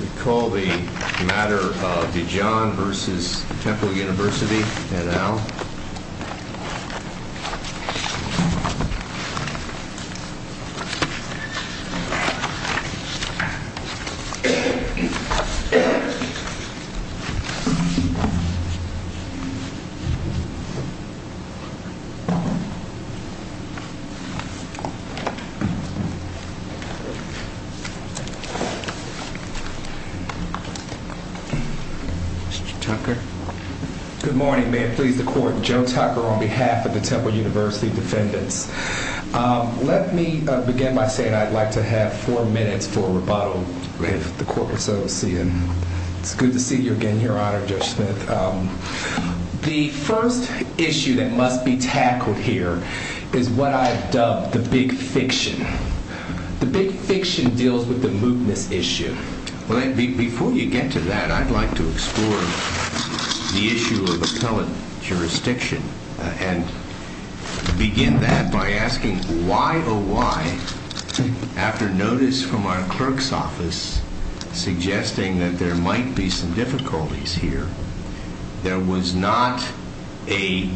We call the matter Dijon v. Temple University, et al. Mr. Tucker, good morning, ma'am, please. The first issue that must be tackled here is what I have dubbed the big fiction. The big fiction deals with the mootness issue. Before you get to that, I'd like to explore the issue of appellate jurisdiction and begin that by asking why, oh why, after notice from our clerk's office suggesting that there might be some difficulties here, there was not a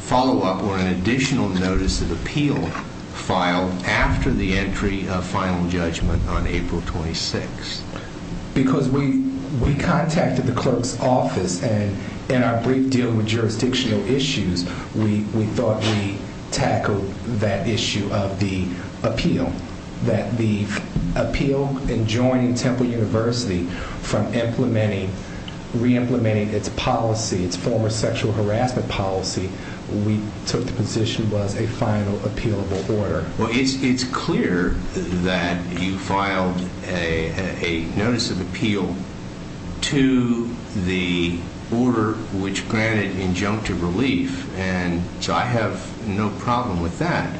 follow-up or an additional notice of appeal filed after the entry of final judgment on April 26th. Because we contacted the clerk's office and in our brief deal with jurisdictional issues, we thought we tackled that issue of the appeal, that the appeal in joining Temple University from re-implementing its policy, its former sexual harassment policy, we took the position that there was a final appealable order. Well, it's clear that you filed a notice of appeal to the order which granted injunctive relief and so I have no problem with that.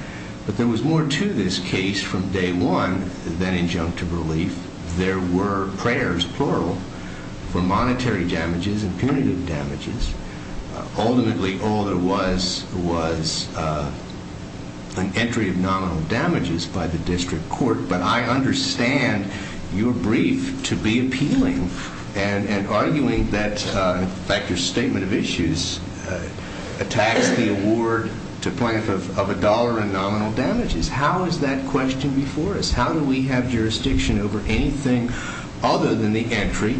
But there was more to this case from day one than injunctive relief. There were prayers, plural, for monetary damages and punitive damages. Ultimately, all there was was an entry of nominal damages by the district court. But I understand your brief to be appealing and arguing that, in fact, your statement of issues attacks the award to plant of a dollar in nominal damages. How is that question before us? How do we have jurisdiction over anything other than the entry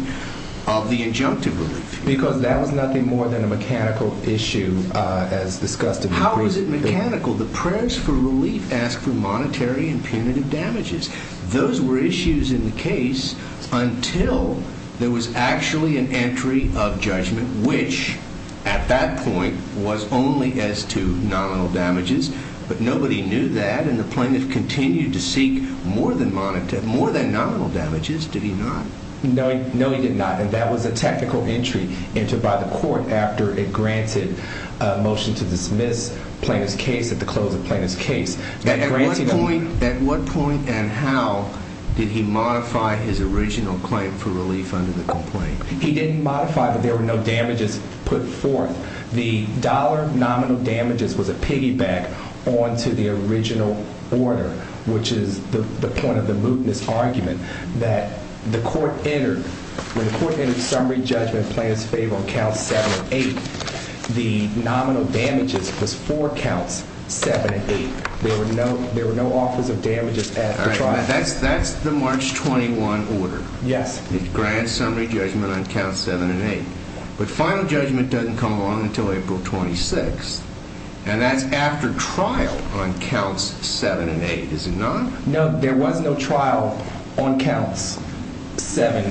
of the injunctive relief? Because that was nothing more than a mechanical issue as discussed in the brief. How is it mechanical? The prayers for relief ask for monetary and punitive damages. Those were issues in the case until there was actually an entry of judgment which, at that point, was only as to nominal damages. But nobody knew that and the plaintiff continued to seek more than nominal damages. Did he not? No, he did not. And that was a technical entry entered by the court after it granted a motion to dismiss plaintiff's case at the close of plaintiff's case. At what point and how did he modify his original claim for relief under the complaint? He didn't modify, but there were no damages put forth. The dollar nominal damages was a piggyback onto the original order, which is the point the court entered summary judgment plan in favor of counts seven and eight, the nominal damages was four counts, seven and eight. There were no offers of damages at the trial. That's the March 21 order. Yes. It grants summary judgment on counts seven and eight. But final judgment doesn't come along until April 26th and that's after trial on counts seven and eight, is it not? No, there was no trial on counts seven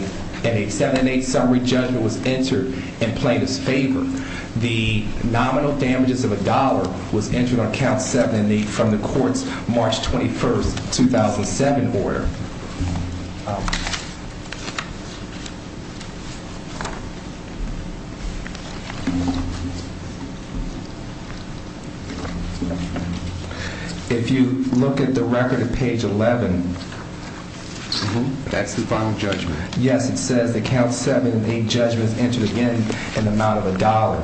and eight, seven and eight summary judgment was entered and played his favor. The nominal damages of a dollar was entered on count seven and eight from the court's March 21st, 2007 order. If you look at the record at page 11, that's the final judgment. Yes. It says that counts seven and eight judgments entered again in the amount of a dollar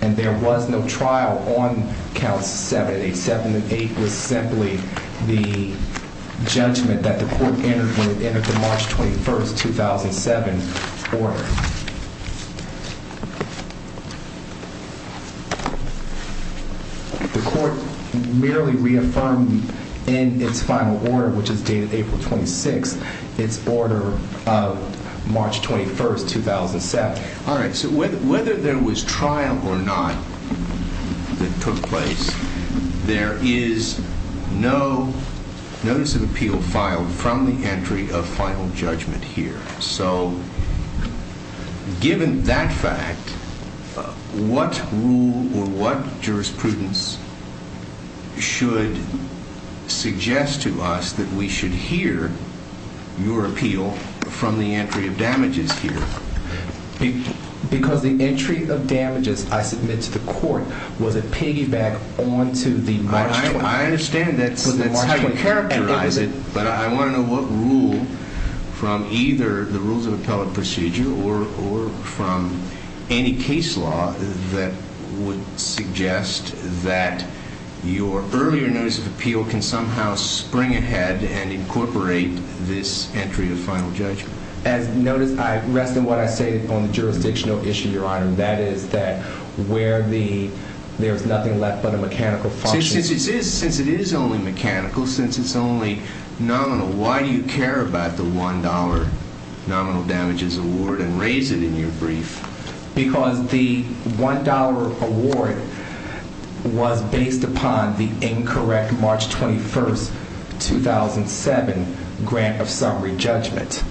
and there was no trial on counts seven and eight, seven and eight was simply the judgment that the court entered when it entered the March 21st, 2007 order. The court merely reaffirmed in its final order, which is dated April 26th, its order of March 21st, 2007. All right, so whether there was trial or not that took place, there is no notice of appeal filed from the entry of final judgment here. So given that fact, what rule or what jurisprudence should suggest to us that we should hear your appeal from the entry of damages here? Because the entry of damages I submit to the court was a piggyback onto the March 21st. I understand that's how you characterize it, but I want to know what rule from either the rules of appellate procedure or from any case law that would suggest that your earlier notice of appeal can somehow spring ahead and incorporate this entry of final judgment. As notice, I rest in what I say on the jurisdictional issue, Your Honor, and that is that where the, there's nothing left but a mechanical function. Since it is only mechanical, since it's only nominal, why do you care about the $1 nominal damages award and raise it in your brief? Because the $1 award was based upon the incorrect March 21st, 2007 grant of summary judgment.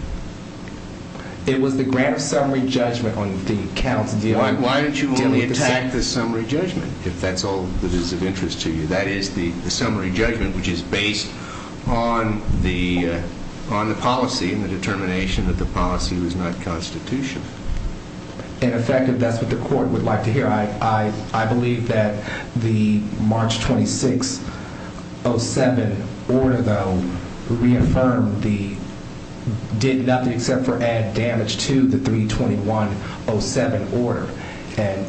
It was the grant of summary judgment on the counts dealing with the sentence. It was the grant of summary judgment. If that's all that is of interest to you, that is the summary judgment, which is based on the, on the policy and the determination that the policy was not constitutional. In effect, if that's what the court would like to hear, I, I, I believe that the March 26, 07 order though, reaffirmed the, did nothing except for add damage to the 321, 07 order. And,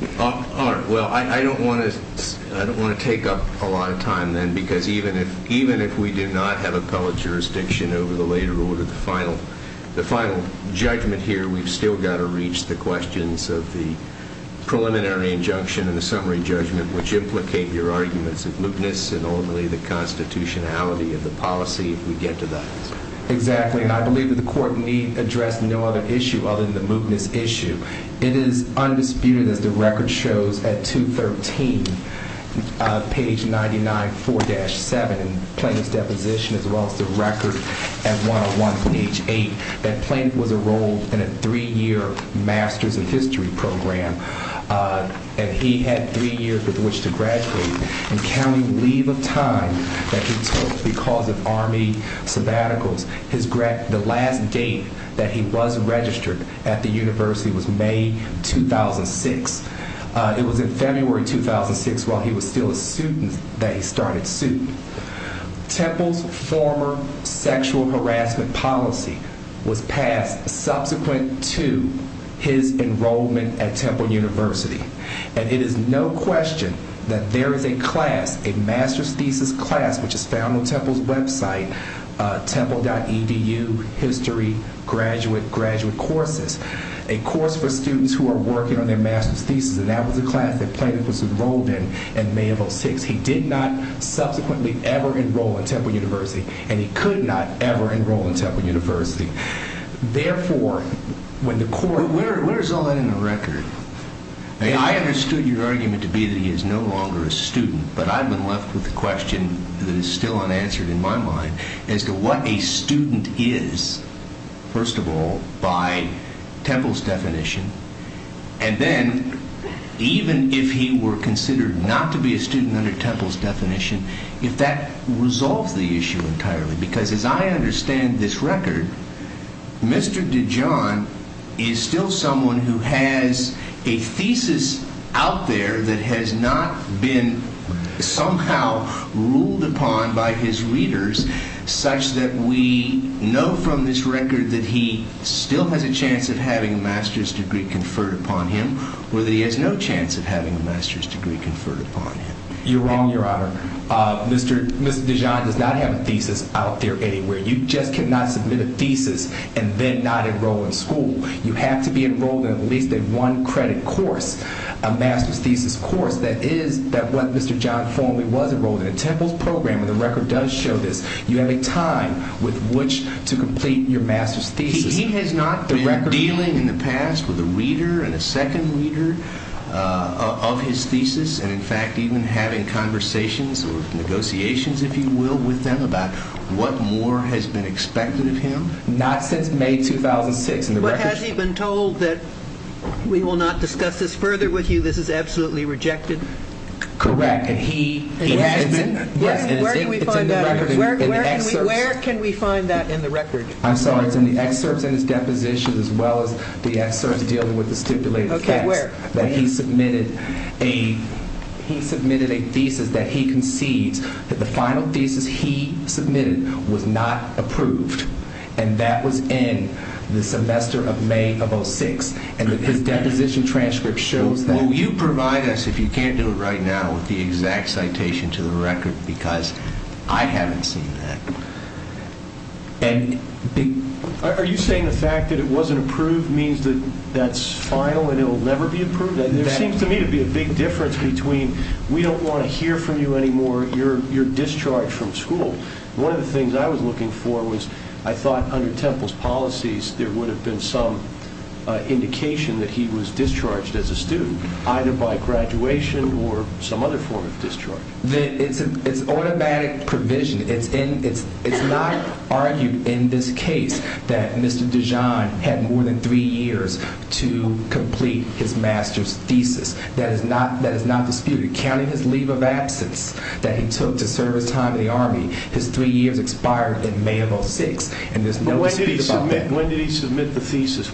Your Honor, well, I, I don't want to, I don't want to take up a lot of time then because even if, even if we did not have appellate jurisdiction over the later order, the final, the final judgment here, we've still got to reach the questions of the preliminary injunction and the summary judgment, which implicate your arguments of mootness and ultimately the constitutionality of the policy if we get to that. Exactly. And I believe that the court need address no other issue other than the mootness issue. It is undisputed as the record shows at 213, page 99, 4-7, Plaintiff's deposition as well as the record at 101, page 8, that Plaintiff was enrolled in a three-year master's of history program. And he had three years with which to graduate and counting leave of time that he took because of army sabbaticals, his grad, the last date that he was registered at the university was May 2006. It was in February 2006 while he was still a student that he started suing. Temple's former sexual harassment policy was passed subsequent to his enrollment at Temple University. And it is no question that there is a class, a master's thesis class, which is found on Temple's website, temple.edu, history, graduate, graduate courses. A course for students who are working on their master's thesis and that was a class that Plaintiff was enrolled in, in May of 06. He did not subsequently ever enroll in Temple University and he could not ever enroll in Temple University. Therefore, when the court... But where is all that in the record? I understood your argument to be that he is no longer a student, but I've been left with a question that is still unanswered in my mind as to what a student is, first of all, by Temple's definition, and then even if he were considered not to be a student under Temple's definition, if that resolves the issue entirely. Because as I understand this record, Mr. Dijon is still someone who has a thesis out there that has not been somehow ruled upon by his readers such that we know from this record that he still has a chance of having a master's degree conferred upon him or that he has no chance of having a master's degree conferred upon him. You're wrong, your honor. Mr. Dijon does not have a thesis out there anywhere. You just cannot submit a thesis and then not enroll in school. You have to be enrolled in at least a one-credit course, a master's thesis course, that is that what Mr. Dijon formally was enrolled in, and Temple's program in the record does show this. You have a time with which to complete your master's thesis. He has not been dealing in the past with a reader and a second reader of his thesis and in fact even having conversations or negotiations, if you will, with them about what more has been expected of him? Not since May 2006. But has he been told that we will not discuss this further with you, this is absolutely rejected? Correct. Where can we find that in the record? I'm sorry, it's in the excerpts in his deposition as well as the excerpts dealing with the stipulated facts. Okay, where? That he submitted a thesis that he concedes that the final thesis he submitted was not approved and that was in the semester of May of 06 and his deposition transcript shows that. So you provide us, if you can't do it right now, with the exact citation to the record because I haven't seen that. Are you saying the fact that it wasn't approved means that that's final and it will never be approved? There seems to me to be a big difference between we don't want to hear from you anymore, you're discharged from school. One of the things I was looking for was I thought under Temple's policies there would have been some indication that he was discharged as a student either by graduation or some other form of discharge. It's automatic provision, it's not argued in this case that Mr. Dijon had more than three years to complete his master's thesis, that is not disputed, counting his leave of absence that he took to serve his time in the army, his three years expired in May of 06 and there's no dispute about that. When did he submit the thesis?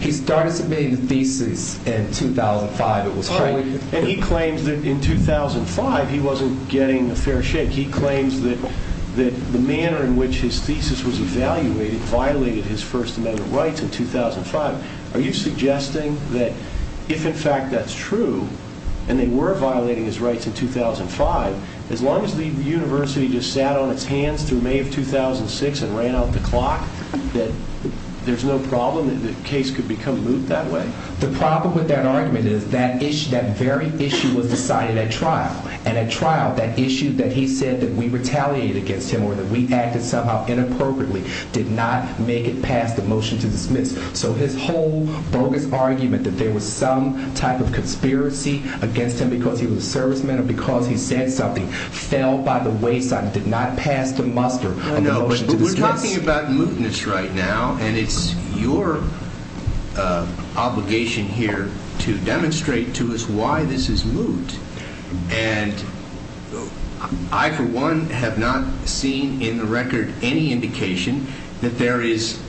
He started submitting the thesis in 2005, it was highly- And he claims that in 2005 he wasn't getting a fair shake. He claims that the manner in which his thesis was evaluated violated his First Amendment rights in 2005. Are you suggesting that if in fact that's true and they were violating his rights in 2005, as long as the university just sat on its hands through May of 2006 and ran out of time, that there's no problem that the case could become moved that way? The problem with that argument is that very issue was decided at trial and at trial that issue that he said that we retaliated against him or that we acted somehow inappropriately did not make it past the motion to dismiss. So his whole bogus argument that there was some type of conspiracy against him because he was a serviceman or because he said something fell by the wayside and did not pass the muster of the motion to dismiss. We're talking about mootness right now and it's your obligation here to demonstrate to us why this is moot. And I for one have not seen in the record any indication that there is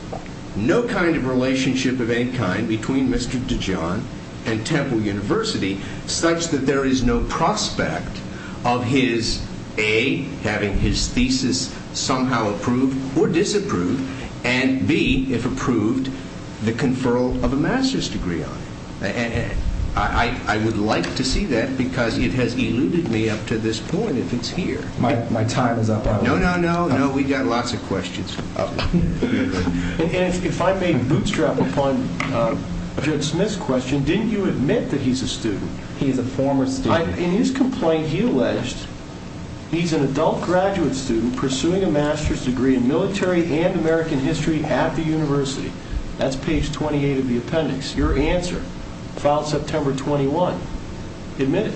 no kind of relationship of any kind between Mr. DeJohn and Temple University such that there is no prospect of his A, having his thesis somehow approved or disapproved and B, if approved, the conferral of a master's degree on it. I would like to see that because it has eluded me up to this point if it's here. My time is up. No, no, no, no. We've got lots of questions. And if I may bootstrap upon Judge Smith's question, didn't you admit that he's a student? He is a former student. In his complaint, he alleged he's an adult graduate student pursuing a master's degree in military and American history at the university. That's page 28 of the appendix. Your answer, filed September 21. Admit it.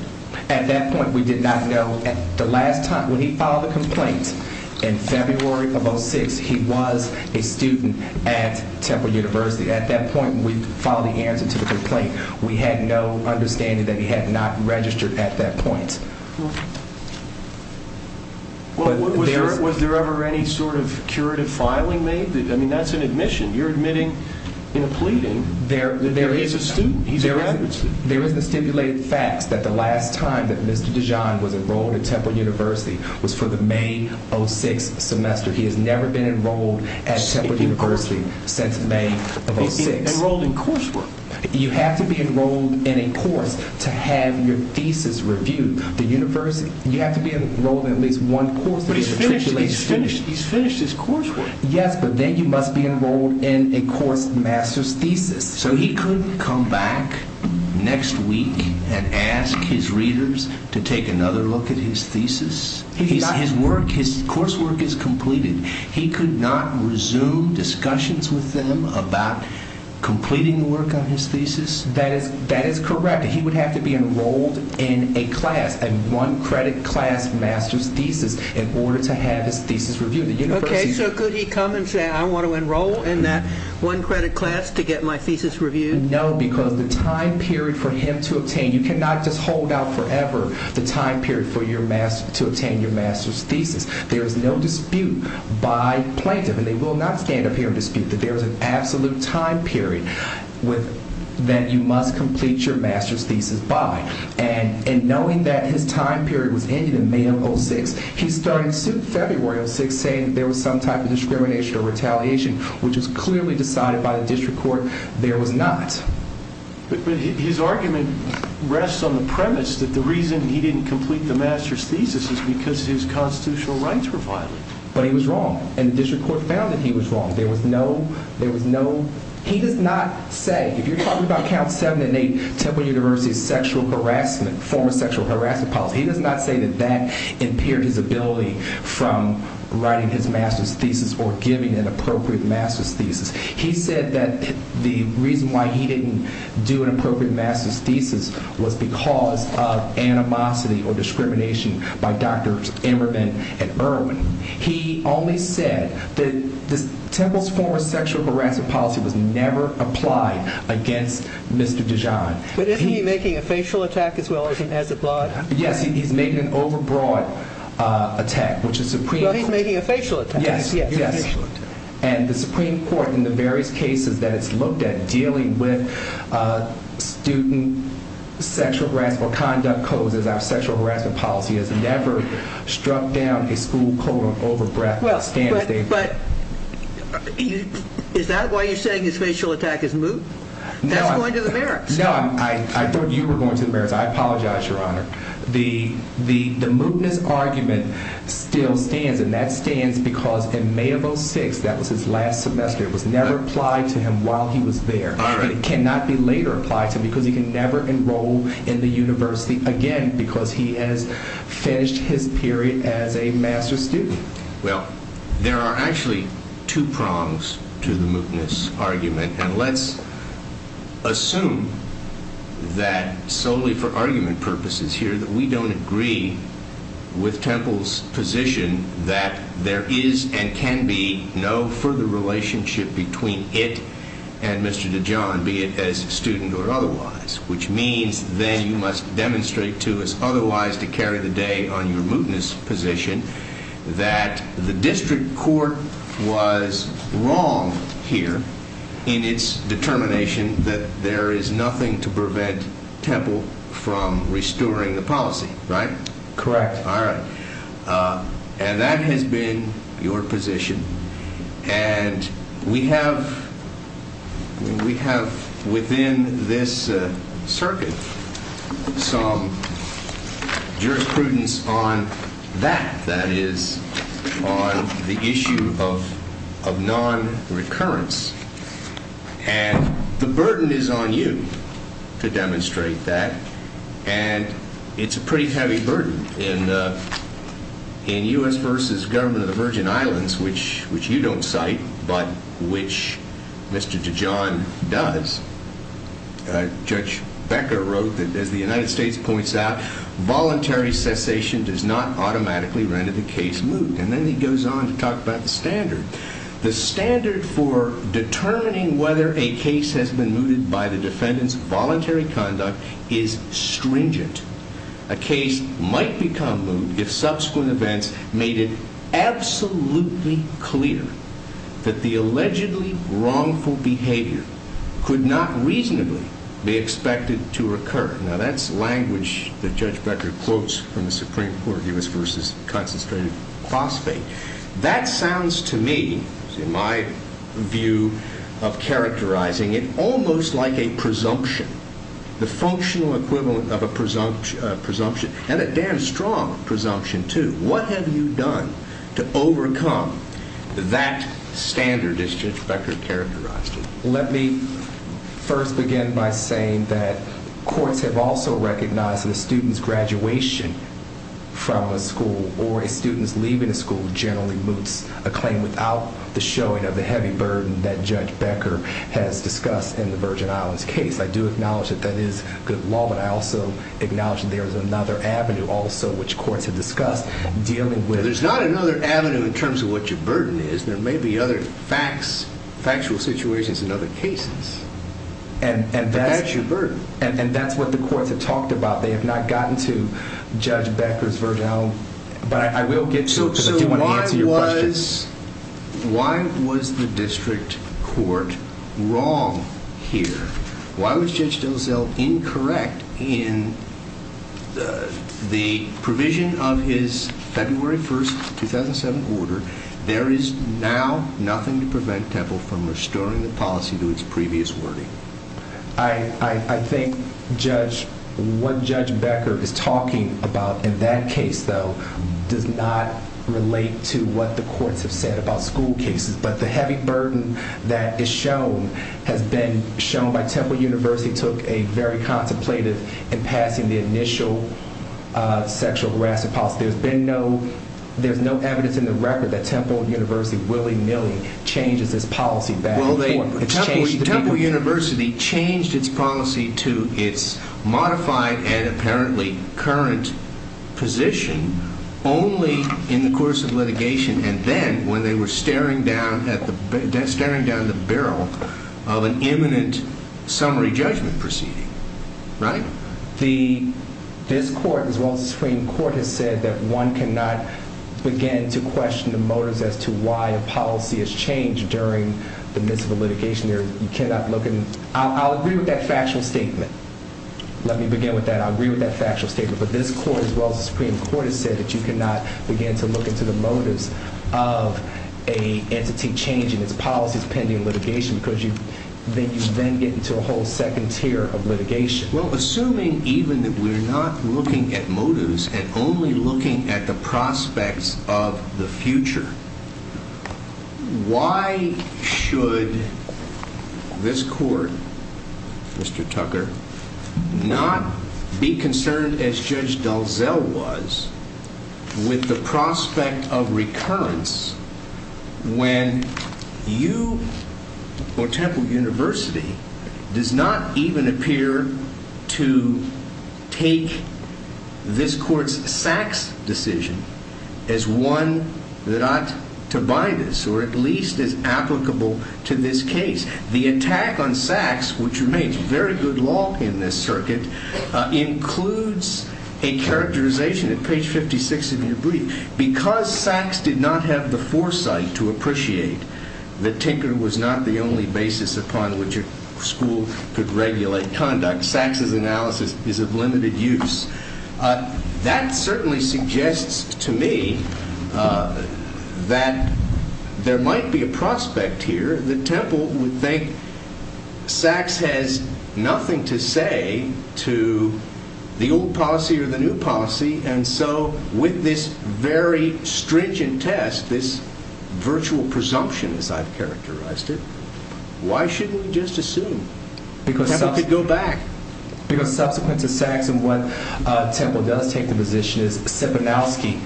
At that point, we did not know at the last time when he filed the complaint in February of 06, he was a student at Temple University. At that point, we followed the answer to the complaint. We had no understanding that he had not registered at that point. Was there ever any sort of curative filing made? I mean, that's an admission. You're admitting in a pleading that he's a student. He's a graduate student. There is the stipulated facts that the last time that Mr. Dijon was enrolled at Temple University was for the May 06 semester. He has never been enrolled at Temple University since May of 06. Enrolled in coursework. You have to be enrolled in a course to have your thesis reviewed. The university, you have to be enrolled in at least one course. But he's finished. He's finished. He's finished his coursework. Yes, but then you must be enrolled in a course master's thesis. So he couldn't come back next week and ask his readers to take another look at his thesis? His work, his coursework is completed. He could not resume discussions with them about completing the work on his thesis? That is correct. He would have to be enrolled in a class, a one-credit class master's thesis in order to have his thesis reviewed. Okay, so could he come and say, I want to enroll in that one-credit class to get my thesis reviewed? No, because the time period for him to obtain, you cannot just hold out forever the time period for your master, to obtain your master's thesis. There is no dispute by plaintiff, and they will not stand up here and dispute that there is an absolute time period that you must complete your master's thesis by. And knowing that his time period was ending in May of 06, he started in February of 06 saying that there was some type of discrimination or retaliation, which was clearly decided by the district court. There was not. His argument rests on the premise that the reason he didn't complete the master's thesis is because his constitutional rights were violated. But he was wrong, and the district court found that he was wrong. There was no, there was no, he does not say, if you're talking about count seven and eight, Temple University's sexual harassment, former sexual harassment policy, he does not say that that impaired his ability from writing his master's thesis or giving an appropriate master's thesis. He said that the reason why he didn't do an appropriate master's thesis was because of animosity or discrimination by Drs. Emmerman and Irwin. He only said that Temple's former sexual harassment policy was never applied against Mr. Dijon. But isn't he making a facial attack as well as a blood? Yes, he's making an overbroad attack, which is Supreme Court. Well, he's making a facial attack. Yes. Yes. And the Supreme Court, in the various cases that it's looked at dealing with student sexual harassment or conduct codes as our sexual harassment policy has never struck down a school code of overbreadth standard. But is that why you're saying his facial attack is moot? No. That's going to the merits. No. I thought you were going to the merits. I apologize, Your Honor. The mootness argument still stands, and that stands because in May of 06, that was his last semester, it was never applied to him while he was there. All right. But it cannot be later applied to him because he can never enroll in the university again because he has finished his period as a master's student. Well, there are actually two prongs to the mootness argument, and let's assume that solely for argument purposes here that we don't agree with Temple's position that there is and can be no further relationship between it and Mr. DeJohn, be it as a student or otherwise, which means then you must demonstrate to us otherwise to carry the day on your mootness position that the district court was wrong here in its determination that there is nothing to prevent Temple from restoring the policy, right? Correct. All right. And that has been your position, and we have within this circuit some jurisprudence on that, that is, on the issue of non-recurrence, and the burden is on you to demonstrate that, and it's a pretty heavy burden in U.S. v. Government of the Virgin Islands, which you don't cite but which Mr. DeJohn does. Judge Becker wrote that, as the United States points out, voluntary cessation does not automatically render the case moot, and then he goes on to talk about the standard. The standard for determining whether a case has been mooted by the defendant's voluntary conduct is stringent. A case might become moot if subsequent events made it absolutely clear that the allegedly wrongful behavior could not reasonably be expected to recur. Now, that's language that Judge Becker quotes from the Supreme Court, U.S. v. Concentrated Crossfade. That sounds to me, in my view of characterizing it, almost like a presumption, the functional equivalent of a presumption, and a damn strong presumption, too. What have you done to overcome that standard, as Judge Becker characterized it? Let me first begin by saying that courts have also recognized that a student's graduation from a school or a student's leaving a school generally moots a claim without the showing of the heavy burden that Judge Becker has discussed in the Virgin Islands case. I do acknowledge that that is good law, but I also acknowledge that there is another avenue also which courts have discussed dealing with... There's not another avenue in terms of what your burden is. There may be other facts, factual situations in other cases, but that's your burden. That's what the courts have talked about. They have not gotten to Judge Becker's Virgin Islands, but I will get to it because I do want to answer your questions. Why was the district court wrong here? Why was Judge Delisle incorrect in the provision of his February 1st, 2007 order? There is now nothing to prevent Temple from restoring the policy to its previous wording. I think what Judge Becker is talking about in that case, though, does not relate to what the courts have said about school cases, but the heavy burden that has been shown by Temple University took a very contemplative in passing the initial sexual harassment policy. There's no evidence in the record that Temple University willy-nilly changes its policy back and forth. Temple University changed its policy to its modified and apparently current position only in the course of litigation and then when they were staring down the barrel of an imminent summary judgment proceeding, right? This court, as well as the Supreme Court, has said that one cannot begin to question the motives as to why a policy has changed during the midst of a litigation. I'll agree with that factual statement. Let me begin with that. I'll agree with that factual statement, but this court, as well as the Supreme Court, has said that you cannot begin to look into the motives of an entity changing its policies pending litigation because you then get into a whole second tier of litigation. Well, assuming even that we're not looking at motives and only looking at the prospects of the future, why should this court, Mr. Tucker, not be concerned as Judge Dalzell was with the prospect of recurrence when you or Temple University does not even appear to take this court's Sachs decision as one that ought to bind us or at least as applicable to this case? The attack on Sachs, which remains very good law in this circuit, includes a characterization at page 56 of your brief. Because Sachs did not have the foresight to appreciate that Tinker was not the only basis upon which a school could regulate conduct, Sachs' analysis is of limited use. That certainly suggests to me that there might be a prospect here that Temple would think Sachs has nothing to say to the old policy or the new policy. And so with this very stringent test, this virtual presumption as I've characterized it, why shouldn't we just assume Temple could go back? Because subsequent to Sachs and what Temple does take the position is Siponowski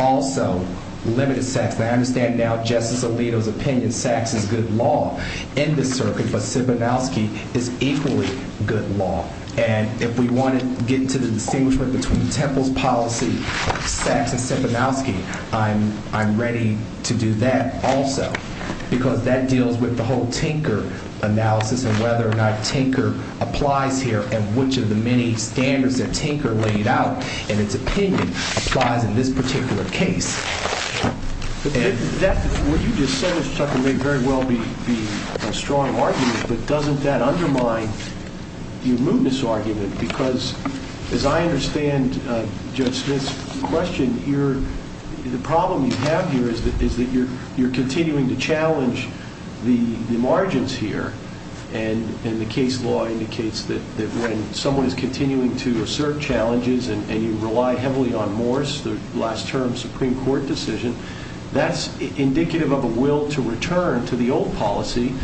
also limited Sachs. I understand now Justice Alito's opinion Sachs is good law in this circuit, but Siponowski is equally good law. And if we want to get to the distinguishment between Temple's policy, Sachs, and Siponowski, I'm ready to do that also. Because that deals with the whole Tinker analysis and whether or not Tinker applies here and which of the many standards that Tinker laid out in its opinion applies in this particular case. What you just said, Mr. Tucker, may very well be a strong argument, but doesn't that undermine your mootness argument? Because as I understand Judge Smith's question, the problem you have here is that you're continuing to challenge the margins here. And the case law indicates that when someone is continuing to assert challenges and you rely heavily on Morse, the last term Supreme Court decision, that's indicative of a will to return to the old policy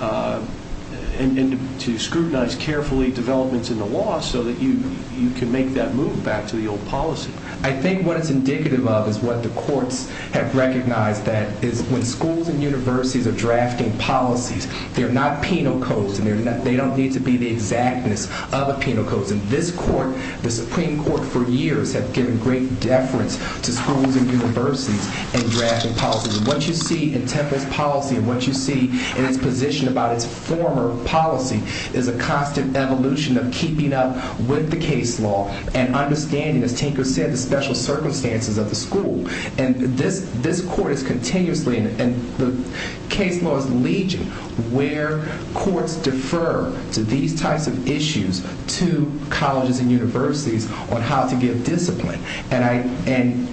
and to scrutinize carefully developments in the law so that you can make that move back to the old policy. I think what it's indicative of is what the courts have recognized that is when schools and universities are drafting policies, they're not penal codes and they don't need to be the exactness of a penal code. And this court, the Supreme Court for years have given great deference to schools and universities and drafting policies. And what you see in Temple's policy and what you see in its position about its former policy is a constant evolution of keeping up with the case law and understanding, as Tinker said, the special circumstances of the school. And this court is continuously, and the case law is leeching, where courts defer to these types of issues to colleges and universities on how to give discipline. And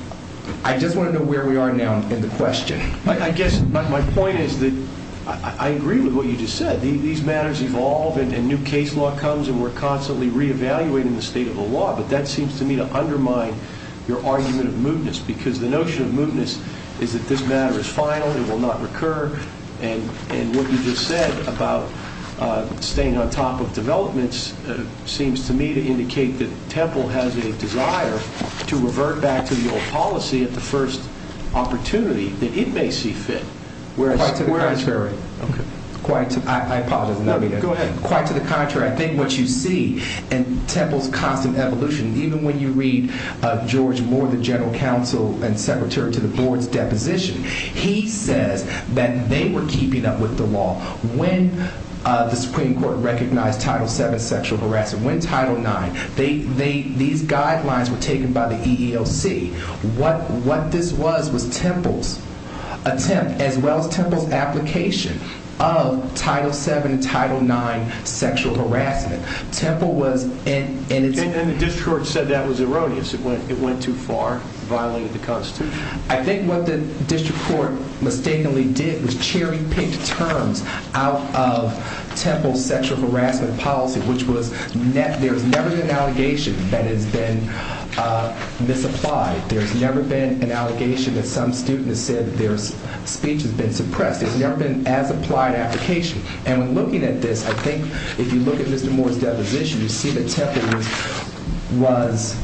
I just want to know where we are now in the question. I guess my point is that I agree with what you just said. These matters evolve and new case law comes and we're constantly reevaluating the state of the law. But that seems to me to undermine your argument of mootness because the notion of mootness is that this matter is final, it will not recur, and what you just said about staying on top of developments seems to me to indicate that Temple has a desire to revert back to the old policy at the first opportunity that it may see fit. Quite to the contrary. I apologize. Go ahead. Quite to the contrary. I think what you see in Temple's constant evolution, even when you read George Moore, the general counsel and secretary to the board's deposition, he says that they were keeping up with the law. When the Supreme Court recognized Title VII sexual harassment, when Title IX, these guidelines were taken by the EEOC, what this was was Temple's attempt, as well as Temple's application of Title VII and Title IX sexual harassment. Temple was... And the district court said that was erroneous, it went too far, violated the Constitution. I think what the district court mistakenly did was cherry-picked terms out of Temple's sexual harassment policy, which was there's never been an allegation that has been misapplied. There's never been an allegation that some student has said that their speech has been suppressed. There's never been as applied application. And when looking at this, I think if you look at Mr. Moore's deposition, you see that Temple was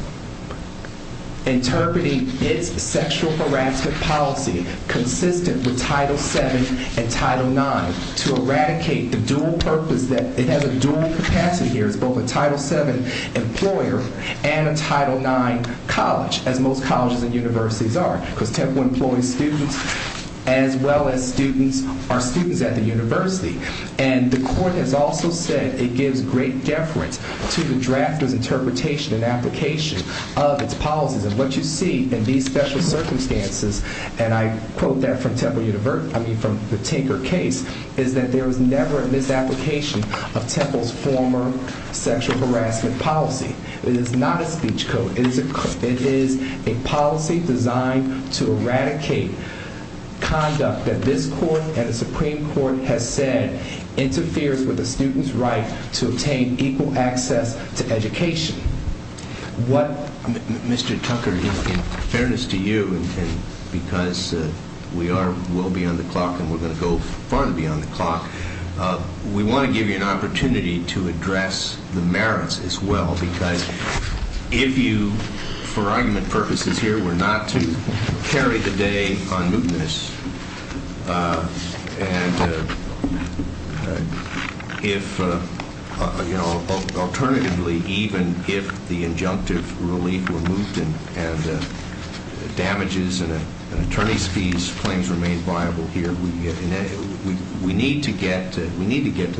interpreting its sexual harassment policy consistent with Title VII and Title IX, to eradicate the dual purpose that it has a dual capacity here, it's both a Title VII employer and a Title IX college, as most colleges and universities are, because Temple employs students as well as students are students at the university. And the court has also said it gives great deference to the drafter's interpretation and application of its policies. And what you see in these special circumstances, and I quote that from Temple University, I mean from the Tinker case, is that there was never a misapplication of Temple's former sexual harassment policy. It is not a speech code. It is a policy designed to eradicate conduct that this court and the Supreme Court has said interferes with a student's right to obtain equal access to education. What Mr. Tucker, in fairness to you, and because we are well beyond the clock and we're going to go far beyond the clock, we want to give you an opportunity to address the merits as well, because if you, for argument purposes here, were not to carry the day on mootness and if, you know, alternatively, even if the injunctive relief were moot and damages and attorney's fees claims remain viable here, we need to get to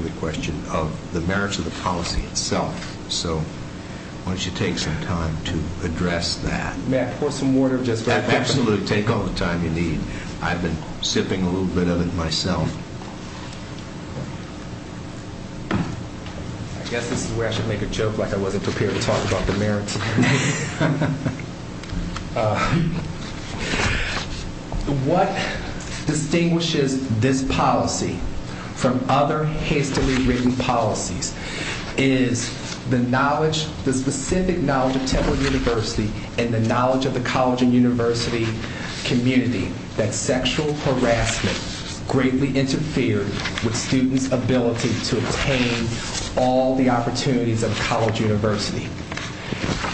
the question of the merits of the policy itself. So why don't you take some time to address that. May I pour some water just right there? Absolutely. Take all the time you need. I've been sipping a little bit of it myself. I guess this is where I should make a joke like I wasn't prepared to talk about the merits. What distinguishes this policy from other hastily written policies is the knowledge, the specific knowledge of Temple University and the knowledge of the college and university community, that sexual harassment greatly interfered with students' ability to obtain all the opportunities of college university.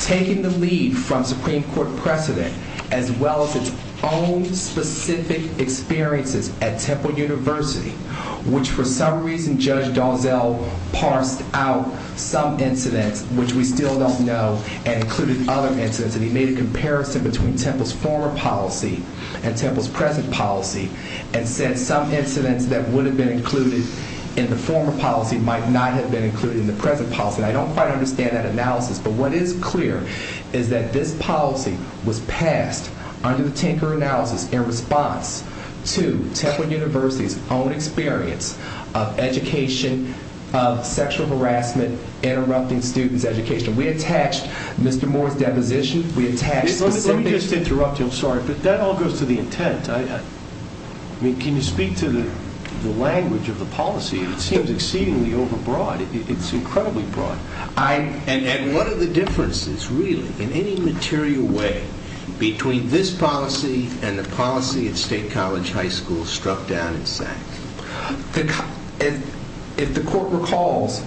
Taking the lead from Supreme Court precedent, as well as its own specific experiences at Temple University, which for some reason Judge Dozell parsed out some incidents which we still don't know and included other incidents, and he made a comparison between Temple's former policy and Temple's present policy and said some incidents that would have been included in the former policy might not have been included in the present policy. And I don't quite understand that analysis, but what is clear is that this policy was passed under the Tinker analysis in response to Temple University's own experience of education, of sexual harassment, interrupting students' education. We attached Mr. Moore's deposition, we attached the same basis. Let me just interrupt you, I'm sorry, but that all goes to the intent. I mean, can you speak to the language of the policy? It seems exceedingly overbroad. It's incredibly broad. And what are the differences, really, in any material way, between this policy and the policy at State College High School struck down at SACS? If the court recalls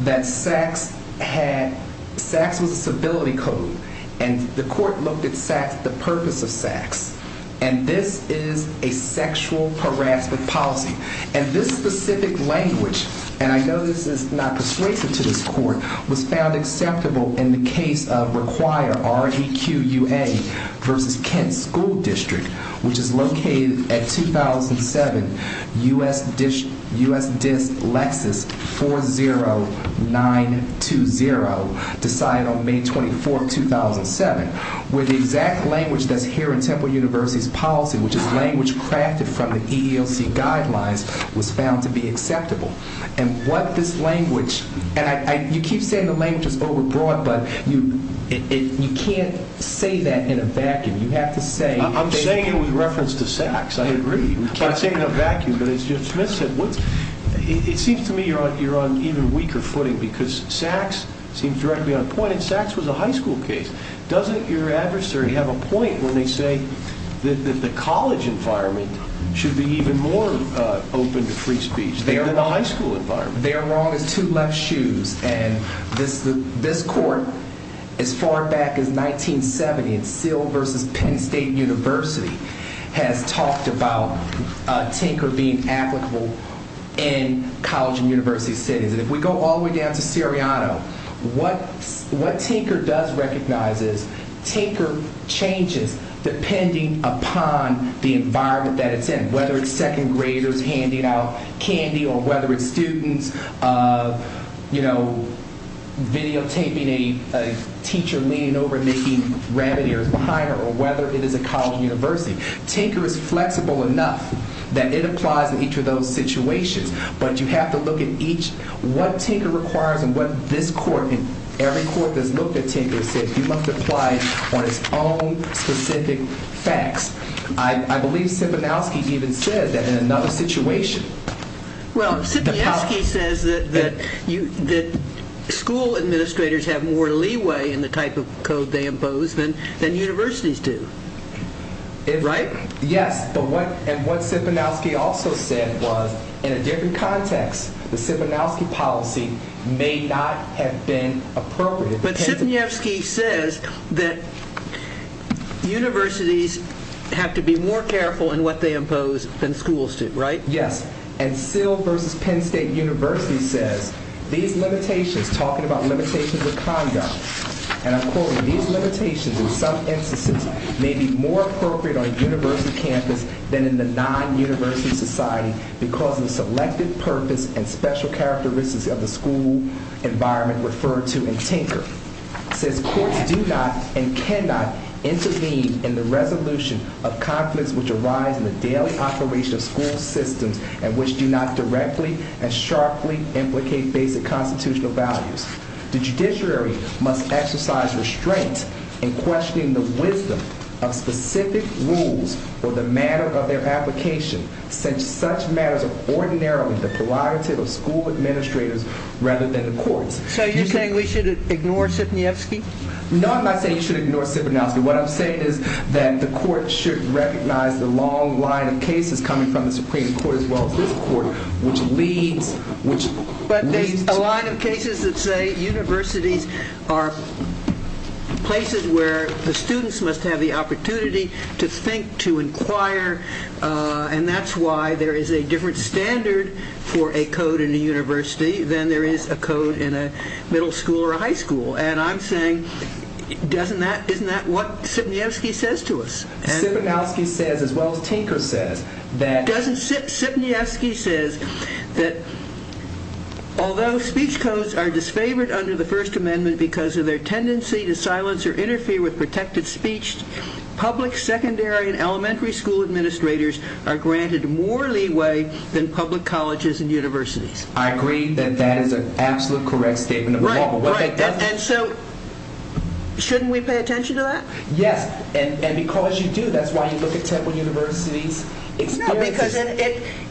that SACS was a civility code, and the court looked at the purpose of SACS, and this is a sexual harassment policy, and this specific language, and I know this is not persuasive to this court, was found acceptable in the case of Require, R-E-Q-U-A, versus Kent School District, which is located at 2007, U.S. DISS Lexus 40920, decided on May 24, 2007, where the exact language that's here in Temple University's policy, which is language crafted from the EEOC guidelines, was found to be acceptable. And what this language, and you keep saying the language is overbroad, but you can't say that in a vacuum. You have to say... I'm saying it with reference to SACS, I agree. You can't say it in a vacuum, but it's just... It seems to me you're on even weaker footing, because SACS seems directly on point, and SACS was a high school case. Doesn't your adversary have a point when they say that the college environment should be even more open to free speech than the high school environment? They're wrong as two left shoes. And this court, as far back as 1970, at Seal versus Penn State University, has talked about Tinker being applicable in college and university settings. And if we go all the way down to Seriano, what Tinker does recognize is, Tinker changes depending upon the environment that it's in. Whether it's second graders handing out candy, or whether it's students videotaping a teacher leaning over and making rabbit ears behind her, or whether it is a college university. Tinker is flexible enough that it applies in each of those situations, but you have to look at each... What Tinker requires, and what this court, and every court that's looked at Tinker, said you must apply on its own specific facts. I believe Siponowski even said that in another situation... Well, Siponowski says that school administrators have more leeway in the type of code they impose than universities do. Right? Yes, but what Siponowski also said was, in a different context, the Siponowski policy may not have been appropriate. But Siponowski says that universities have to be more careful in what they impose than schools do, right? Yes, and Sill v. Penn State University says, these limitations, talking about limitations of conduct, and I'm quoting, these limitations in some instances may be more appropriate on a university campus than in the non-university society because of the selected purpose and Siponowski says, courts do not and cannot intervene in the resolution of conflicts which arise in the daily operation of school systems and which do not directly and sharply implicate basic constitutional values. The judiciary must exercise restraint in questioning the wisdom of specific rules for the matter of their application, since such matters are ordinarily the prerogative of school administrators rather than the courts. So you're saying we should ignore Siponowski? No, I'm not saying you should ignore Siponowski. What I'm saying is that the courts should recognize the long line of cases coming from the Supreme Court as well as this court, which leads to… But there's a line of cases that say universities are places where the students must have the opportunity to think, to inquire, and that's why there is a different standard for a code in a university than there is a code in a middle school or a high school. And I'm saying, isn't that what Siponowski says to us? Siponowski says as well as Tinker says that… Siponowski says that although speech codes are disfavored under the First Amendment because of their tendency to silence or interfere with protected speech, public, secondary, and elementary school administrators are granted more leeway than public colleges and universities. I agree that that is an absolute correct statement of the law. Right, right. And so shouldn't we pay attention to that? Yes, and because you do, that's why you look at Temple University's experiences. Because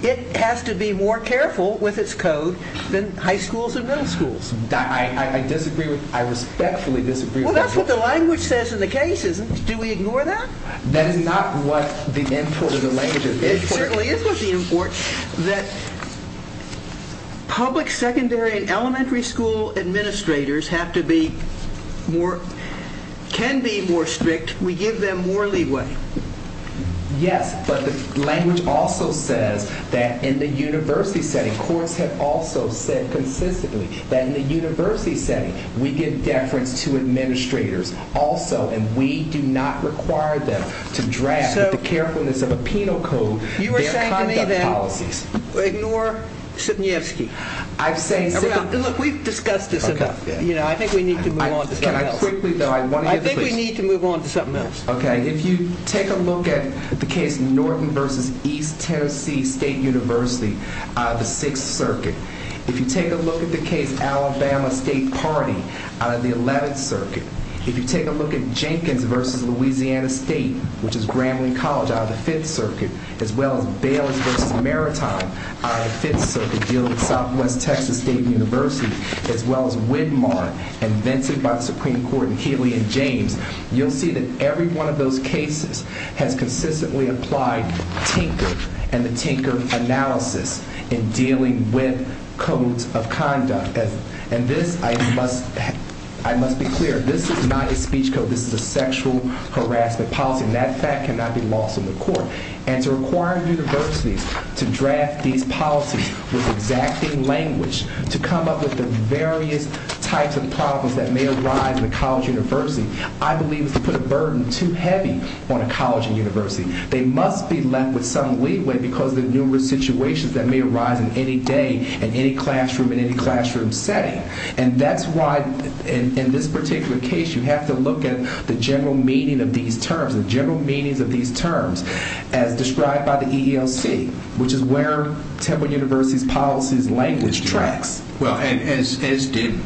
it has to be more careful with its code than high schools and middle schools. I respectfully disagree with that. Well, that's what the language says in the cases. Do we ignore that? That is not what the input of the language is. It certainly is what the input that public, secondary, and elementary school administrators have to be more… can be more strict. We give them more leeway. Yes, but the language also says that in the university setting, courts have also said consistently that in the university setting, we give deference to administrators also, and we do not require them to draft, with the carefulness of a penal code, their conduct policies. You are saying to me then, ignore Sidniewski. I'm saying… Look, we've discussed this enough. I think we need to move on to something else. Can I quickly, though, I want to get this… I think we need to move on to something else. Okay, if you take a look at the case, Norton v. East Tennessee State University, the 6th Circuit. If you take a look at the case, Alabama State Party, out of the 11th Circuit. If you take a look at Jenkins v. Louisiana State, which is Grambling College, out of the 5th Circuit, as well as Bayless v. Maritime, out of the 5th Circuit, dealing with Southwest Texas State University, as well as Widmar, invented by the Supreme Court, and Healy and James, you'll see that every one of those cases has consistently applied Tinker and the Tinker analysis in dealing with codes of conduct. And this, I must be clear, this is not a speech code. This is a sexual harassment policy, and that fact cannot be lost on the court. And to require universities to draft these policies with exacting language, to come up with the various types of problems that may arise in a college university, I believe is to put a burden too heavy on a college and university. They must be left with some leeway because of the numerous situations that may arise in any day, in any classroom, in any classroom setting. And that's why, in this particular case, you have to look at the general meaning of these terms, the general meanings of these terms, as described by the EEOC, which is where Temple University's policies language tracks. Well, as did,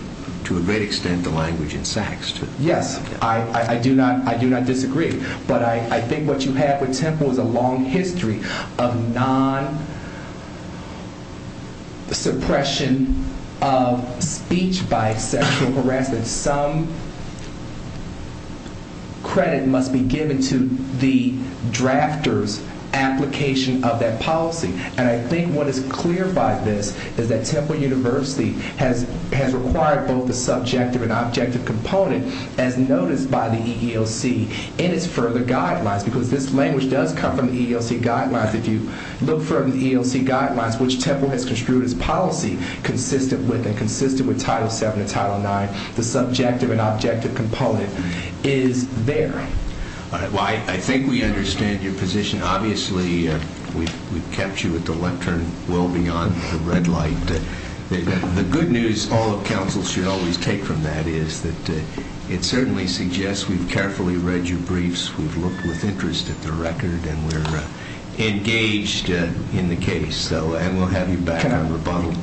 to a great extent, the language in Sachs. Yes, I do not disagree. But I think what you have with Temple is a long history of non-suppression of speech by sexual harassment. Some credit must be given to the drafters' application of that policy. And I think what is clear by this is that Temple University has required both the because this language does come from the EEOC guidelines. If you look from the EEOC guidelines, which Temple has construed as policy consistent with and consistent with Title VII and Title IX, the subjective and objective component is there. Well, I think we understand your position. Obviously, we've kept you at the lectern well beyond the red light. The good news all of counsel should always take from that is that it certainly suggests we've carefully read your briefs, we've looked with interest at the record, and we're engaged in the case. And we'll have you back on rebuttal.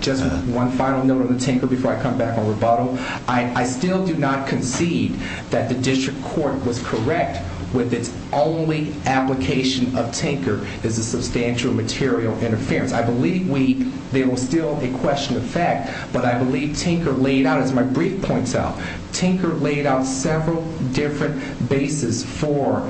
Just one final note on the Tinker before I come back on rebuttal. I still do not concede that the district court was correct with its only application of Tinker as a substantial material interference. I believe there was still a question of fact, but I believe Tinker laid out, as my brief said, four different bases for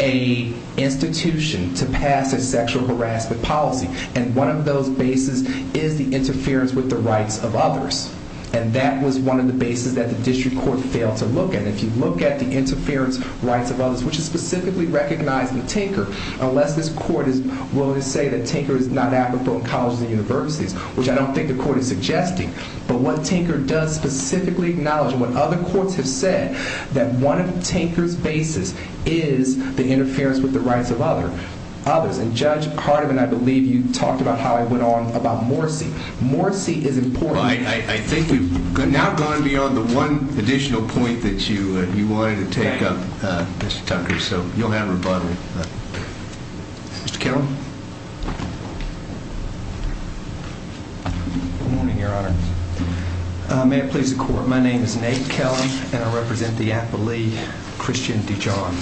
an institution to pass a sexual harassment policy. And one of those bases is the interference with the rights of others. And that was one of the bases that the district court failed to look at. And if you look at the interference rights of others, which is specifically recognized in Tinker, unless this court is willing to say that Tinker is not applicable in colleges and universities, which I don't think the court is suggesting, but what Tinker does specifically acknowledge, and what other courts have said, that one of Tinker's bases is the interference with the rights of others. And Judge Hardiman, I believe you talked about how it went on about Morrisey. Morrisey is important. I think we've now gone beyond the one additional point that you wanted to take up, Mr. Tucker. So you'll have rebuttal. Mr. Kittle? Good morning, Your Honor. May it please the Court. My name is Nate Kellum, and I represent the appellee, Christian Dijon.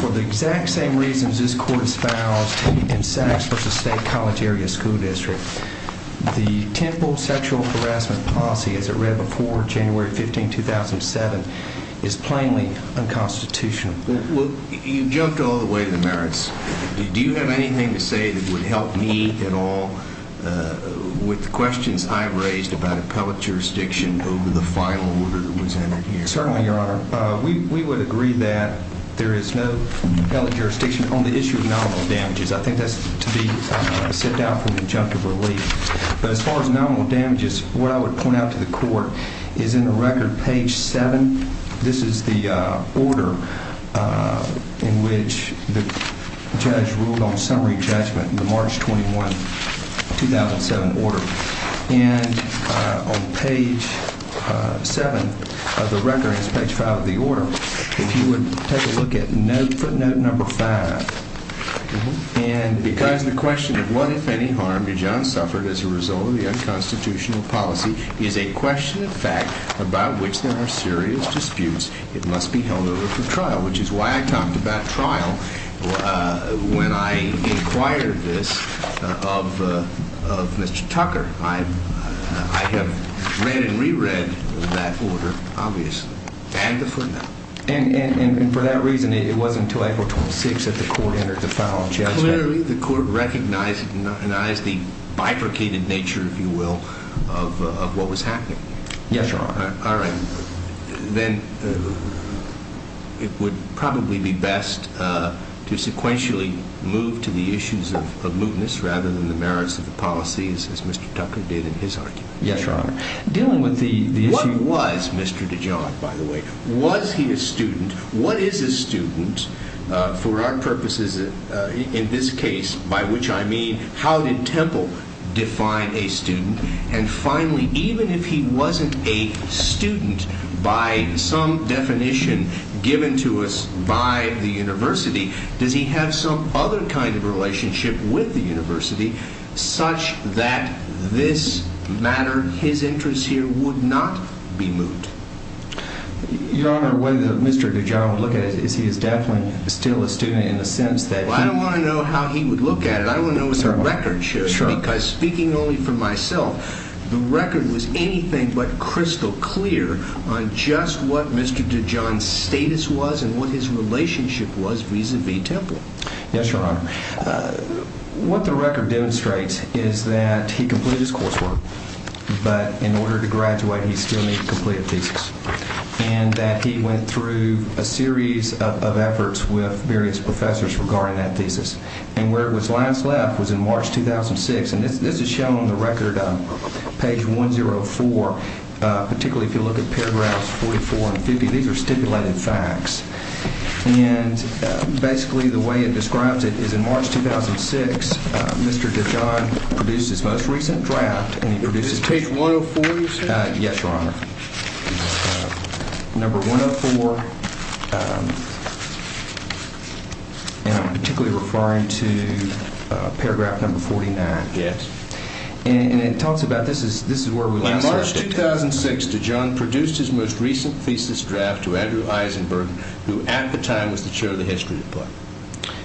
For the exact same reasons this court espoused in Saks versus State College Area School District, the Temple sexual harassment policy, as it read before January 15, 2007, is plainly unconstitutional. Well, you've jumped all the way to the merits. Do you have anything to say that would help me at all with the questions I've raised about appellate jurisdiction over the final order that was entered here? Certainly, Your Honor. We would agree that there is no appellate jurisdiction on the issue of nominal damages. I think that's to be sit down for an injunctive relief. But as far as nominal damages, what I would point out to the court is in the record, page 7, this is the order in which the judge ruled on summary judgment in the March 21, 2007, order. And on page 7 of the record, and it's page 5 of the order, if you would take a look at footnote number 5. Because the question of what, if any, harm Dijon suffered as a result of the unconstitutional policy is a question of fact about which there are serious disputes, it must be held over for trial, which is why I talked about trial when I inquired this of Mr. Tucker. I have read and reread that order, obviously, and the footnote. And for that reason, it wasn't until April 26 that the court entered the final judgment. Literally, the court recognized the bifurcated nature, if you will, of what was happening. Yes, Your Honor. All right. Then it would probably be best to sequentially move to the issues of mootness rather than the merits of the policies, as Mr. Tucker did in his argument. Yes, Your Honor. Dealing with the issue- What was Mr. Dijon, by the way? Was he a student? What is a student for our purposes in this case, by which I mean how did Temple define a student? And finally, even if he wasn't a student by some definition given to us by the university, does he have some other kind of relationship with the university such that this matter, his interest here, would not be moot? Your Honor, whether Mr. Dijon would look at it is he is definitely still a student in the sense that he- Well, I don't want to know how he would look at it. I want to know what the record shows- Sure. Because speaking only for myself, the record was anything but crystal clear on just what Mr. Dijon's status was and what his relationship was vis-à-vis Temple. Yes, Your Honor. What the record demonstrates is that he completed his coursework, but in order to graduate, he still needs to complete a thesis. And that he went through a series of efforts with various professors regarding that thesis. And where it was last left was in March 2006. And this is shown on the record, page 104, particularly if you look at paragraphs 44 and 50. These are stipulated facts. And basically the way it describes it is in March 2006, Mr. Dijon produced his most recent draft. Is this page 104 you're saying? Yes, Your Honor. Number 104. And I'm particularly referring to paragraph number 49. Yes. And it talks about- this is where we- In March 2006, Dijon produced his most recent thesis draft to Andrew Eisenberg, who at the time was the chair of the history department.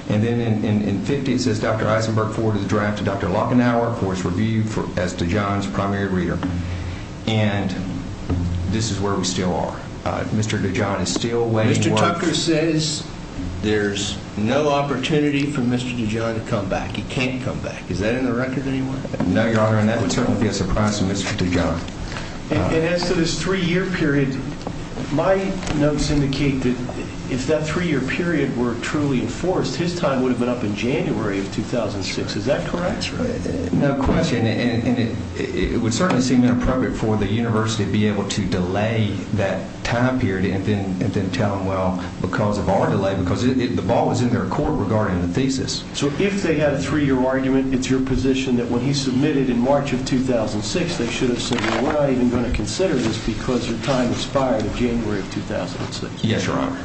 And then in 50, it says, Dr. Eisenberg forwarded the draft to Dr. Lockenauer for his review as Dijon's primary reader. And this is where we still are. Mr. Dijon is still waiting for- Mr. Tucker says there's no opportunity for Mr. Dijon to come back. He can't come back. Is that in the record anywhere? No, Your Honor, and that would certainly be a surprise to Mr. Dijon. And as to this three-year period, my notes indicate that if that three-year period were truly enforced, his time would have been up in January of 2006. Is that correct? That's right. No question. And it would certainly seem inappropriate for the university to be able to delay that time period and then tell him, well, because of our delay, because the ball was in their court regarding the thesis. So if they had a three-year argument, it's your position that when he submitted in March of 2006, they should have said, well, I ain't even going to consider this because your time expired in January of 2006. Yes, Your Honor.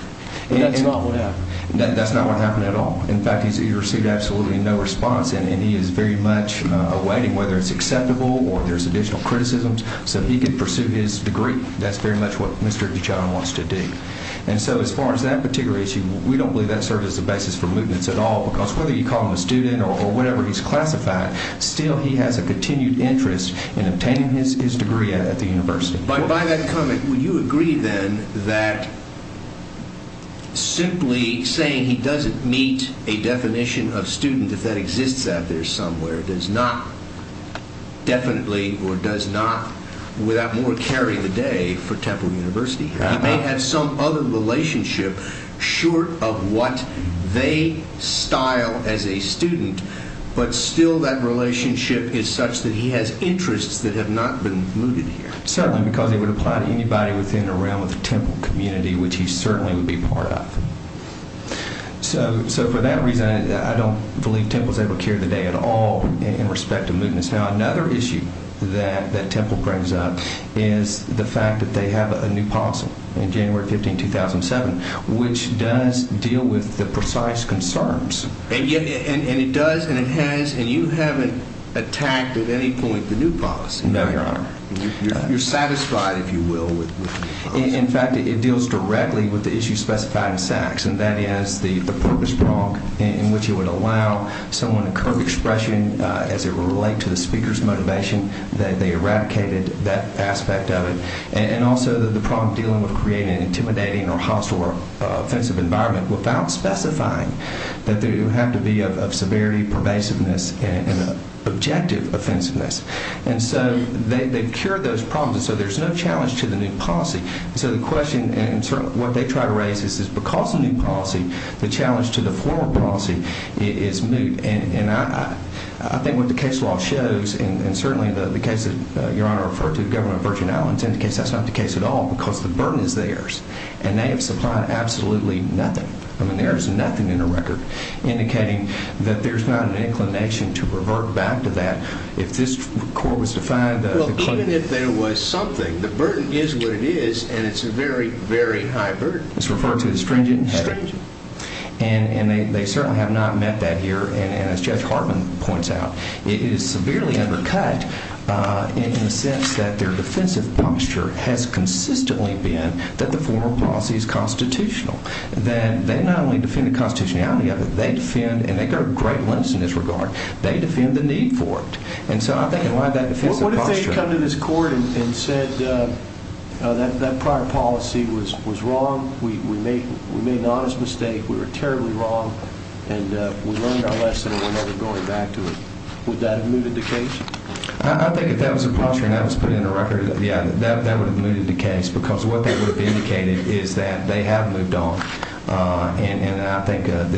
But that's not what happened. That's not what happened at all. In fact, he's received absolutely no response, and he is very much awaiting whether it's acceptable or there's additional criticisms so he can pursue his degree. That's very much what Mr. Dijon wants to do. And so as far as that particular issue, we don't believe that serves as a basis for mootness at all because whether you call him a student or whatever he's classified, still he has a continued interest in obtaining his degree at the university. By that comment, would you agree then that simply saying he doesn't meet a definition of student, if that exists out there somewhere, does not definitely or does not without more carry the day for Temple University? He may have some other relationship short of what they style as a student, but still that relationship is such that he has interests that have not been mooted here. Certainly, because it would apply to anybody within or around the Temple community, which he certainly would be part of. So for that reason, I don't believe Temple's ever carried the day at all in respect of mootness. Now, another issue that Temple brings up is the fact that they have a new posse in January 15, 2007, which does deal with the precise concerns. And it does and it has, and you haven't attacked at any point the new posse. No, Your Honor. You're satisfied, if you will, with the new posse. In fact, it deals directly with the issue specified in Sachs, and that is the purpose prong in which it would allow someone a curved expression as it would relate to the speaker's motivation, that they eradicated that aspect of it. And also the prong dealing with creating an intimidating or hostile or offensive environment without specifying that it would have to be of severity, pervasiveness, and objective offensiveness. And so they've cured those problems, and so there's no challenge to the new posse. And so the question and what they try to raise is because of the new posse, the challenge to the former posse is moot. And I think what the case law shows, and certainly the case that Your Honor referred to, the government of Virgin Islands, indicates that's not the case at all because the burden is theirs, and they have supplied absolutely nothing. I mean, there is nothing in the record indicating that there's not an inclination to revert back to that. If this court was to find the claimant. Well, even if there was something, the burden is what it is, and it's a very, very high burden. It's referred to as stringent. Stringent. And they certainly have not met that here, and as Judge Hartman points out, it is severely undercut in the sense that their defensive posture has consistently been that the former posse is constitutional, that they not only defend the constitutionality of it, they defend, and they go to great lengths in this regard, they defend the need for it. And so I think in light of that defensive posture. What if they had come to this court and said that prior policy was wrong, we made an honest mistake, we were terribly wrong, and we learned our lesson and we're never going back to it? Would that have mooted the case? I think if that was the posture and that was put in the record, yeah, that would have mooted the case because what that would have indicated is that they have moved on. And I think that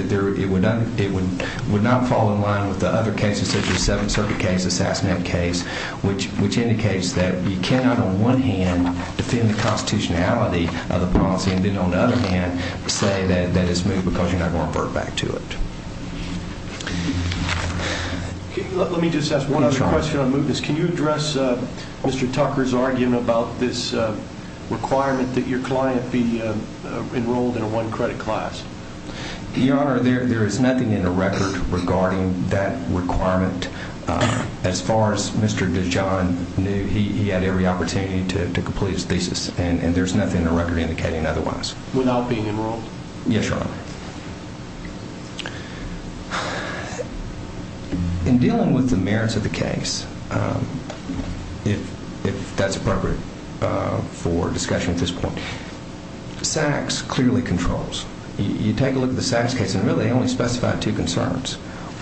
it would not fall in line with the other cases such as the Seventh Circuit case, the SASMED case, which indicates that you cannot on one hand defend the constitutionality of the policy and then on the other hand say that it's moved because you're not going to revert back to it. Let me just ask one other question on mootness. Can you address Mr. Tucker's argument about this requirement that your client be enrolled in a one-credit class? Your Honor, there is nothing in the record regarding that requirement. As far as Mr. DeJohn knew, he had every opportunity to complete his thesis, and there's nothing in the record indicating otherwise. Without being enrolled? Yes, Your Honor. In dealing with the merits of the case, if that's appropriate for discussion at this point, SACS clearly controls. You take a look at the SACS case and really they only specify two concerns.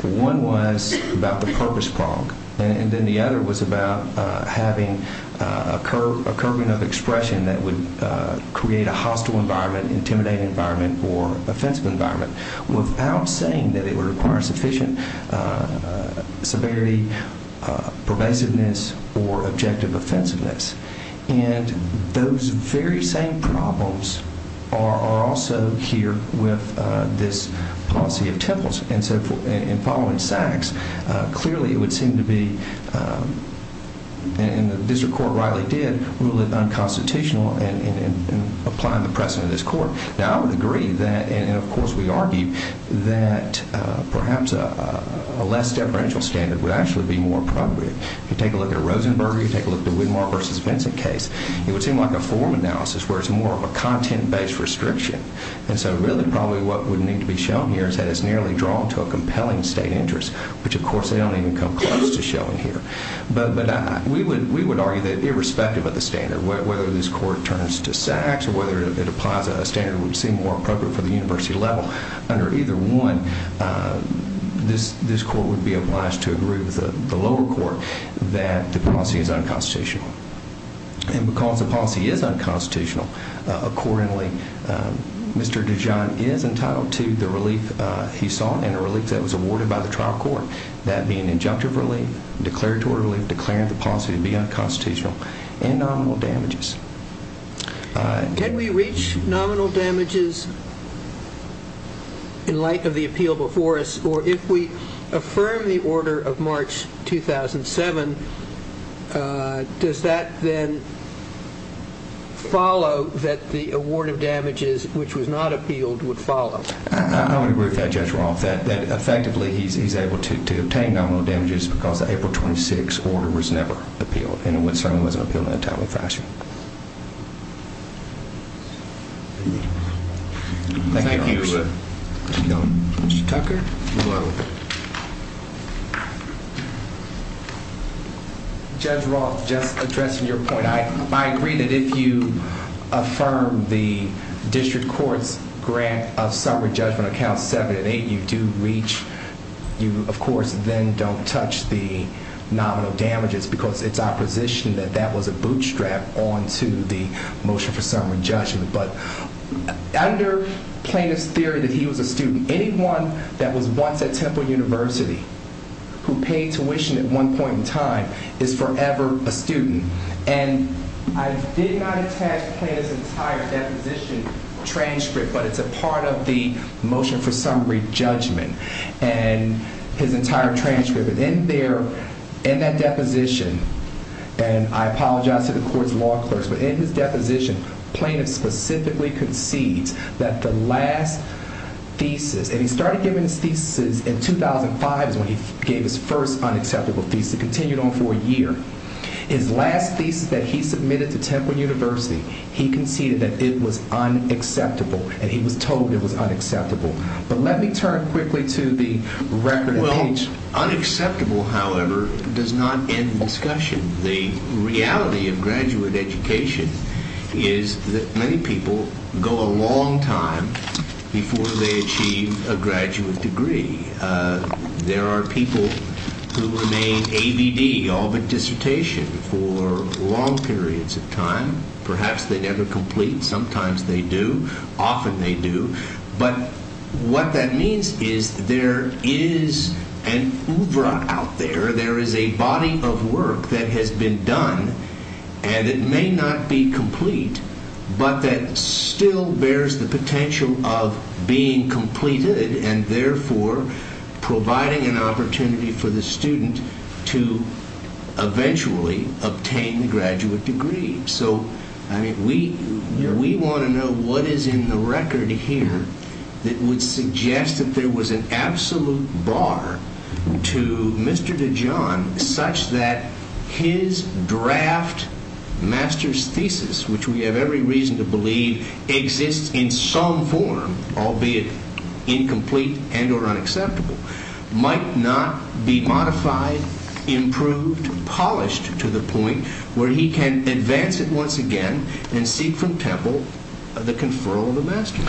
One was about the purpose prong, and then the other was about having a curving of expression that would create a hostile environment, intimidating environment, or offensive environment without saying that it would require sufficient severity, pervasiveness, or objective offensiveness. And those very same problems are also here with this policy of temples. In following SACS, clearly it would seem to be, and the district court rightly did, rule it unconstitutional in applying the precedent of this court. Now, I would agree that, and of course we argue, that perhaps a less deferential standard would actually be more appropriate. If you take a look at Rosenberger, you take a look at the Widmar v. Vincent case, it would seem like a form analysis where it's more of a content-based restriction. And so really probably what would need to be shown here is that it's nearly drawn to a compelling state interest, which of course they don't even come close to showing here. But we would argue that irrespective of the standard, whether this court turns to SACS or whether it applies a standard that would seem more appropriate for the university level, under either one, this court would be obliged to agree with the lower court that the policy is unconstitutional. And because the policy is unconstitutional, accordingly, Mr. DeJohn is entitled to the relief he sought and a relief that was awarded by the trial court, that being injunctive relief, declaratory relief, declaring the policy to be unconstitutional, and nominal damages. Can we reach nominal damages in light of the appeal before us, or if we affirm the order of March 2007, does that then follow that the award of damages, which was not appealed, would follow? I would agree with that, Judge Roth, that effectively he's able to obtain nominal damages because the April 26 order was never appealed, and it certainly wasn't appealed in a timely fashion. Thank you. Mr. Tucker? Judge Roth, just addressing your point, I agree that if you affirm the district court's grant of summary judgment on counts 7 and 8, you do reach, you of course then don't touch the nominal damages because it's our position that that was a bootstrap onto the motion for summary judgment. But under plaintiff's theory that he was a student, anyone that was once at Temple University who paid tuition at one point in time is forever a student. And I did not attach plaintiff's entire deposition transcript, but it's a part of the motion for summary judgment, and his entire transcript. And in there, in that deposition, and I apologize to the court's law clerks, but in his deposition, plaintiff specifically concedes that the last thesis, and he started giving his thesis in 2005 is when he gave his first unacceptable thesis. It continued on for a year. His last thesis that he submitted to Temple University, he conceded that it was unacceptable, and he was told it was unacceptable. But let me turn quickly to the record of age. Well, unacceptable, however, does not end the discussion. The reality of graduate education is that many people go a long time before they achieve a graduate degree. There are people who remain ABD, all but dissertation, for long periods of time. Perhaps they never complete. Sometimes they do. Often they do. But what that means is there is an oeuvre out there. There is a body of work that has been done, and it may not be complete, but that still bears the potential of being completed, and therefore providing an opportunity for the student to eventually obtain the graduate degree. So, I mean, we want to know what is in the record here that would suggest that there was an absolute bar to Mr. DeJohn such that his draft master's thesis, which we have every reason to believe exists in some form, albeit incomplete and or unacceptable, might not be modified, improved, polished to the point where he can advance it once again and seek from Temple the conferral of the master's.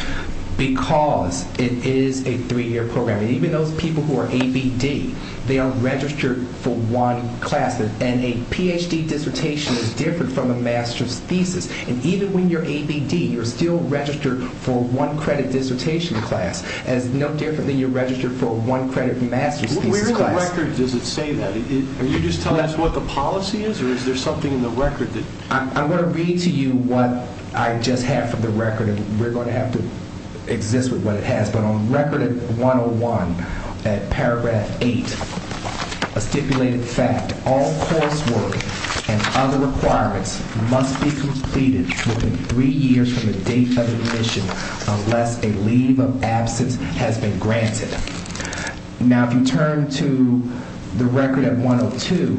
Because it is a three-year program. Even those people who are ABD, they are registered for one class, and a Ph.D. dissertation is different from a master's thesis. And even when you're ABD, you're still registered for a one-credit dissertation class. It's no different than you're registered for a one-credit master's thesis class. Where in the record does it say that? Are you just telling us what the policy is, or is there something in the record? I'm going to read to you what I just have from the record, and we're going to have to exist with what it has. But on Record 101, at paragraph 8, a stipulated fact, all coursework and other requirements must be completed within three years from the date of admission unless a leave of absence has been granted. Now, if you turn to the Record 102,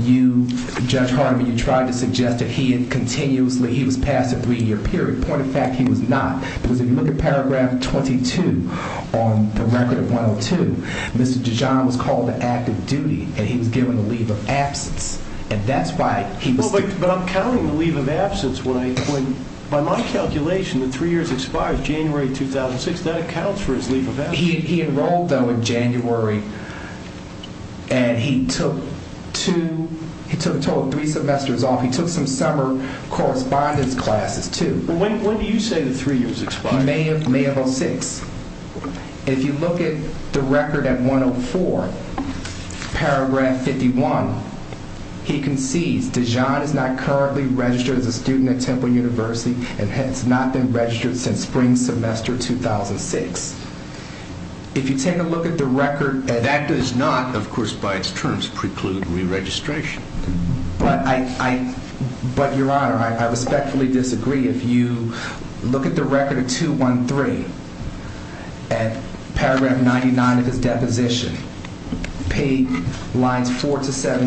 you, Judge Hardiman, you tried to suggest that he had continuously, he was passed a three-year period. Point of fact, he was not. Because if you look at paragraph 22 on the Record 102, Mr. Dijon was called to active duty, and he was given a leave of absence. And that's why he was... But I'm counting the leave of absence when, by my calculation, That accounts for his leave of absence. He enrolled, though, in January, and he took a total of three semesters off. He took some summer correspondence classes, too. When do you say the three years expired? May of 2006. And if you look at the record at 104, paragraph 51, he concedes Dijon is not currently registered as a student at Temple University and has not been registered since spring semester 2006. If you take a look at the record... That does not, of course, by its terms, preclude re-registration. But, Your Honor, I respectfully disagree. If you look at the record at 213, at paragraph 99 of his deposition, page lines 4 to 7,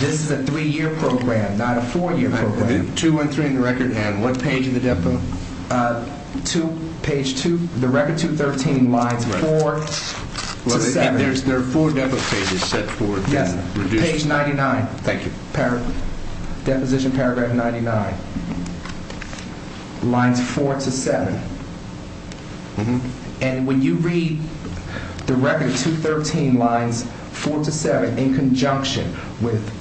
this is a three-year program, not a four-year program. 213 in the record, and what page of the depot? Page 2, the record 213, lines 4 to 7. There are four depot pages set forth. Yes, page 99. Thank you. Deposition, paragraph 99. Lines 4 to 7. And when you read the record at 213, lines 4 to 7, in conjunction with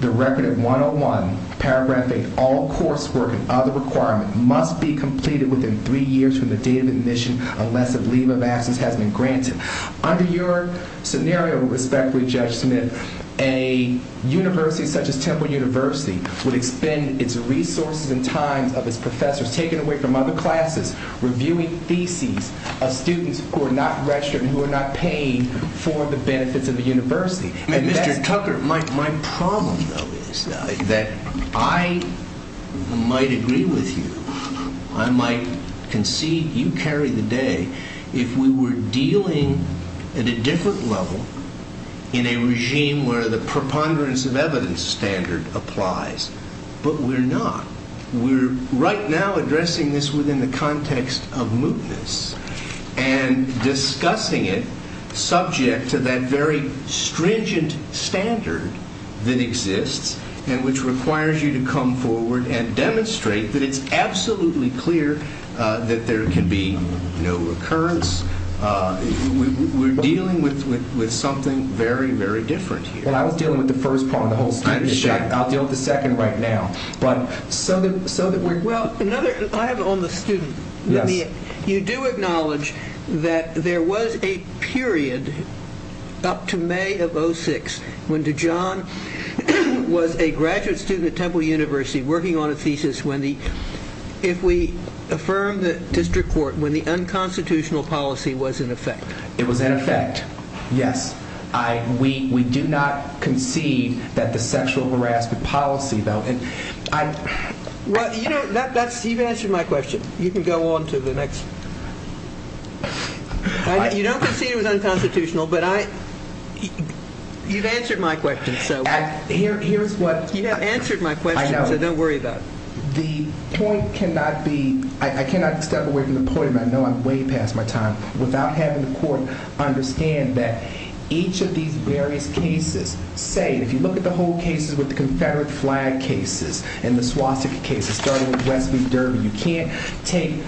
the record at 101, paragraph 8, all coursework and other requirements must be completed within three years from the date of admission unless a leave of absence has been granted. Under your scenario, respectfully, Judge Smith, a university such as Temple University would expend its resources and time of its professors taken away from other classes reviewing theses of students who are not registered and who are not paid for the benefits of the university. Mr. Tucker, my problem, though, is that I might agree with you. I might concede you carry the day if we were dealing at a different level in a regime where the preponderance of evidence standard applies, but we're not. We're right now addressing this within the context of mootness and discussing it subject to that very stringent standard that exists and which requires you to come forward and demonstrate that it's absolutely clear that there can be no recurrence. We're dealing with something very, very different here. Well, I was dealing with the first part of the whole thing. I'll deal with the second right now. I have it on the student. You do acknowledge that there was a period up to May of 06 when Dajon was a graduate student at Temple University working on a thesis when the... If we affirm the district court, when the unconstitutional policy was in effect. It was in effect, yes. We do not concede that the sexual harassment policy, though... You've answered my question. You can go on to the next... You don't concede it was unconstitutional, but I... You've answered my question, so... Here's what... You have answered my question, so don't worry about it. The point cannot be... I cannot step away from the point, and I know I'm way past my time, without having the court understand that each of these various cases, say, if you look at the whole cases with the Confederate flag cases and the Swastika cases, starting with West V. Durbin, you can't take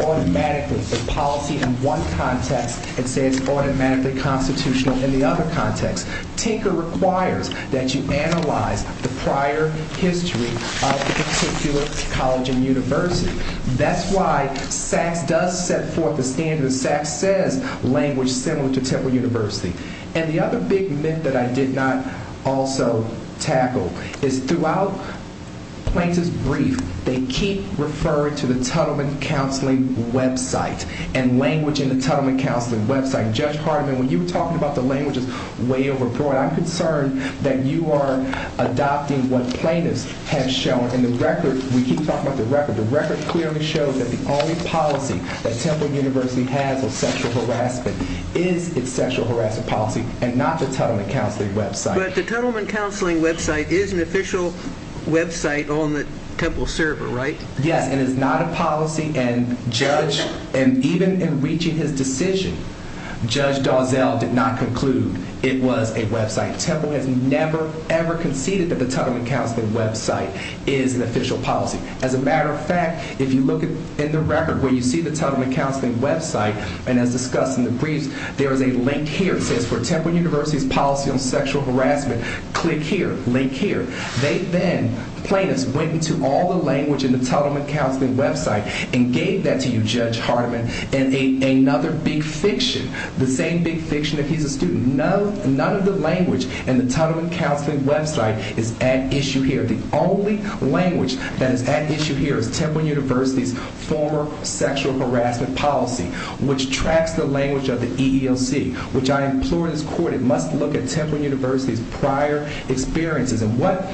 automatically the policy in one context and say it's automatically constitutional in the other context. Tinker requires that you analyze the prior history of a particular college and university. That's why Sachs does set forth a standard. Sachs says language similar to Temple University. And the other big myth that I did not also tackle is throughout Plaintiff's brief, they keep referring to the Tuttleman Counseling website and language in the Tuttleman Counseling website. Judge Hardiman, when you were talking about the languages way overbroad, I'm concerned that you are adopting what Plaintiffs have shown. And the record, we keep talking about the record, the record clearly shows that the only policy that Temple University has on sexual harassment is its sexual harassment policy and not the Tuttleman Counseling website. But the Tuttleman Counseling website is an official website on the Temple server, right? Yes, and it's not a policy. And Judge, even in reaching his decision, Judge Dozell did not conclude it was a website. Temple has never, ever conceded that the Tuttleman Counseling website is an official policy. As a matter of fact, if you look in the record where you see the Tuttleman Counseling website, and as discussed in the briefs, there is a link here. It says, For Temple University's Policy on Sexual Harassment, click here, link here. They then, Plaintiffs, went into all the language in the Tuttleman Counseling website and gave that to you, Judge Hardiman, in another big fiction, the same big fiction if he's a student. None of the language in the Tuttleman Counseling website is at issue here. The only language that is at issue here is Temple University's former sexual harassment policy, which tracks the language of the EEOC, which I implore this Court, it must look at Temple University's prior experiences. And what,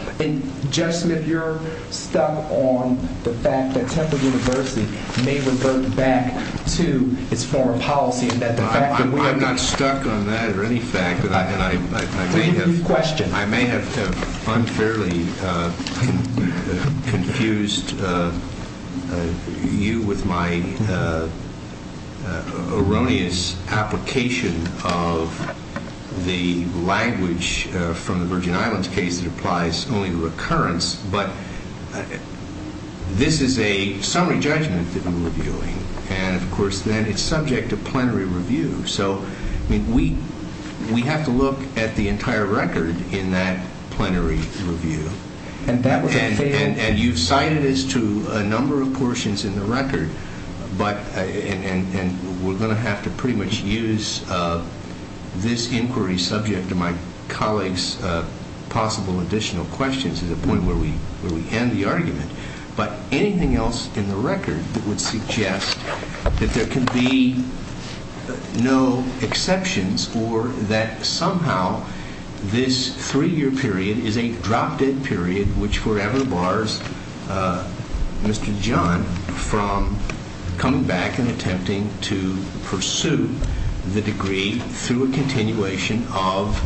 Judge Smith, you're stuck on the fact that Temple University may revert back to its former policy and that the fact that we are not... I'm not stuck on that or any fact that I may have... Tell me the question. I may have unfairly confused you with my erroneous application of the language from the Virgin Islands case that applies only to recurrence, but this is a summary judgment that we're reviewing and, of course, then it's subject to plenary review. So, I mean, we have to look at the entire record in that plenary review. And you've cited us to a number of portions in the record, and we're going to have to pretty much use this inquiry subject to my colleague's possible additional questions to the point where we end the argument. But anything else in the record that would suggest that there can be no exceptions or that somehow this three-year period is a drop-dead period which forever bars Mr. John from coming back and attempting to pursue the degree through a continuation of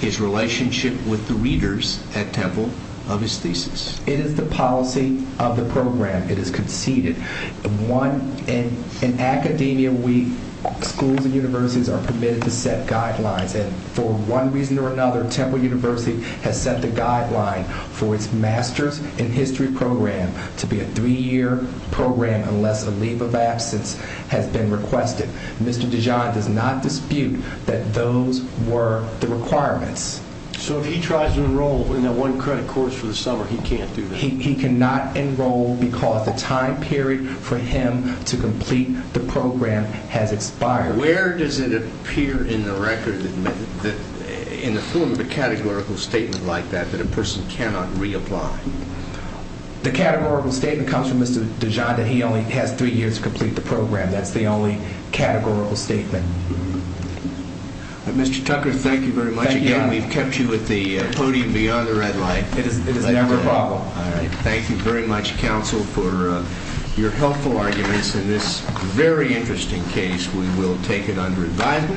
his relationship with the readers at Temple of his thesis? It is the policy of the program. It is conceded. In academia, schools and universities are permitted to set guidelines, and for one reason or another, Temple University has set the guideline for its Master's in History program to be a three-year program unless a leave of absence has been requested. Mr. DeJohn does not dispute that those were the requirements. So if he tries to enroll in that one credit course for the summer, he can't do that? He cannot enroll because the time period for him to complete the program has expired. Where does it appear in the record, in the form of a categorical statement like that, that a person cannot reapply? The categorical statement comes from Mr. DeJohn that he only has three years to complete the program. That's the only categorical statement. Mr. Tucker, thank you very much again. We've kept you at the podium beyond the red light. It is never a problem. Thank you very much, counsel, for your helpful arguments. In this very interesting case, we will take it under advisement.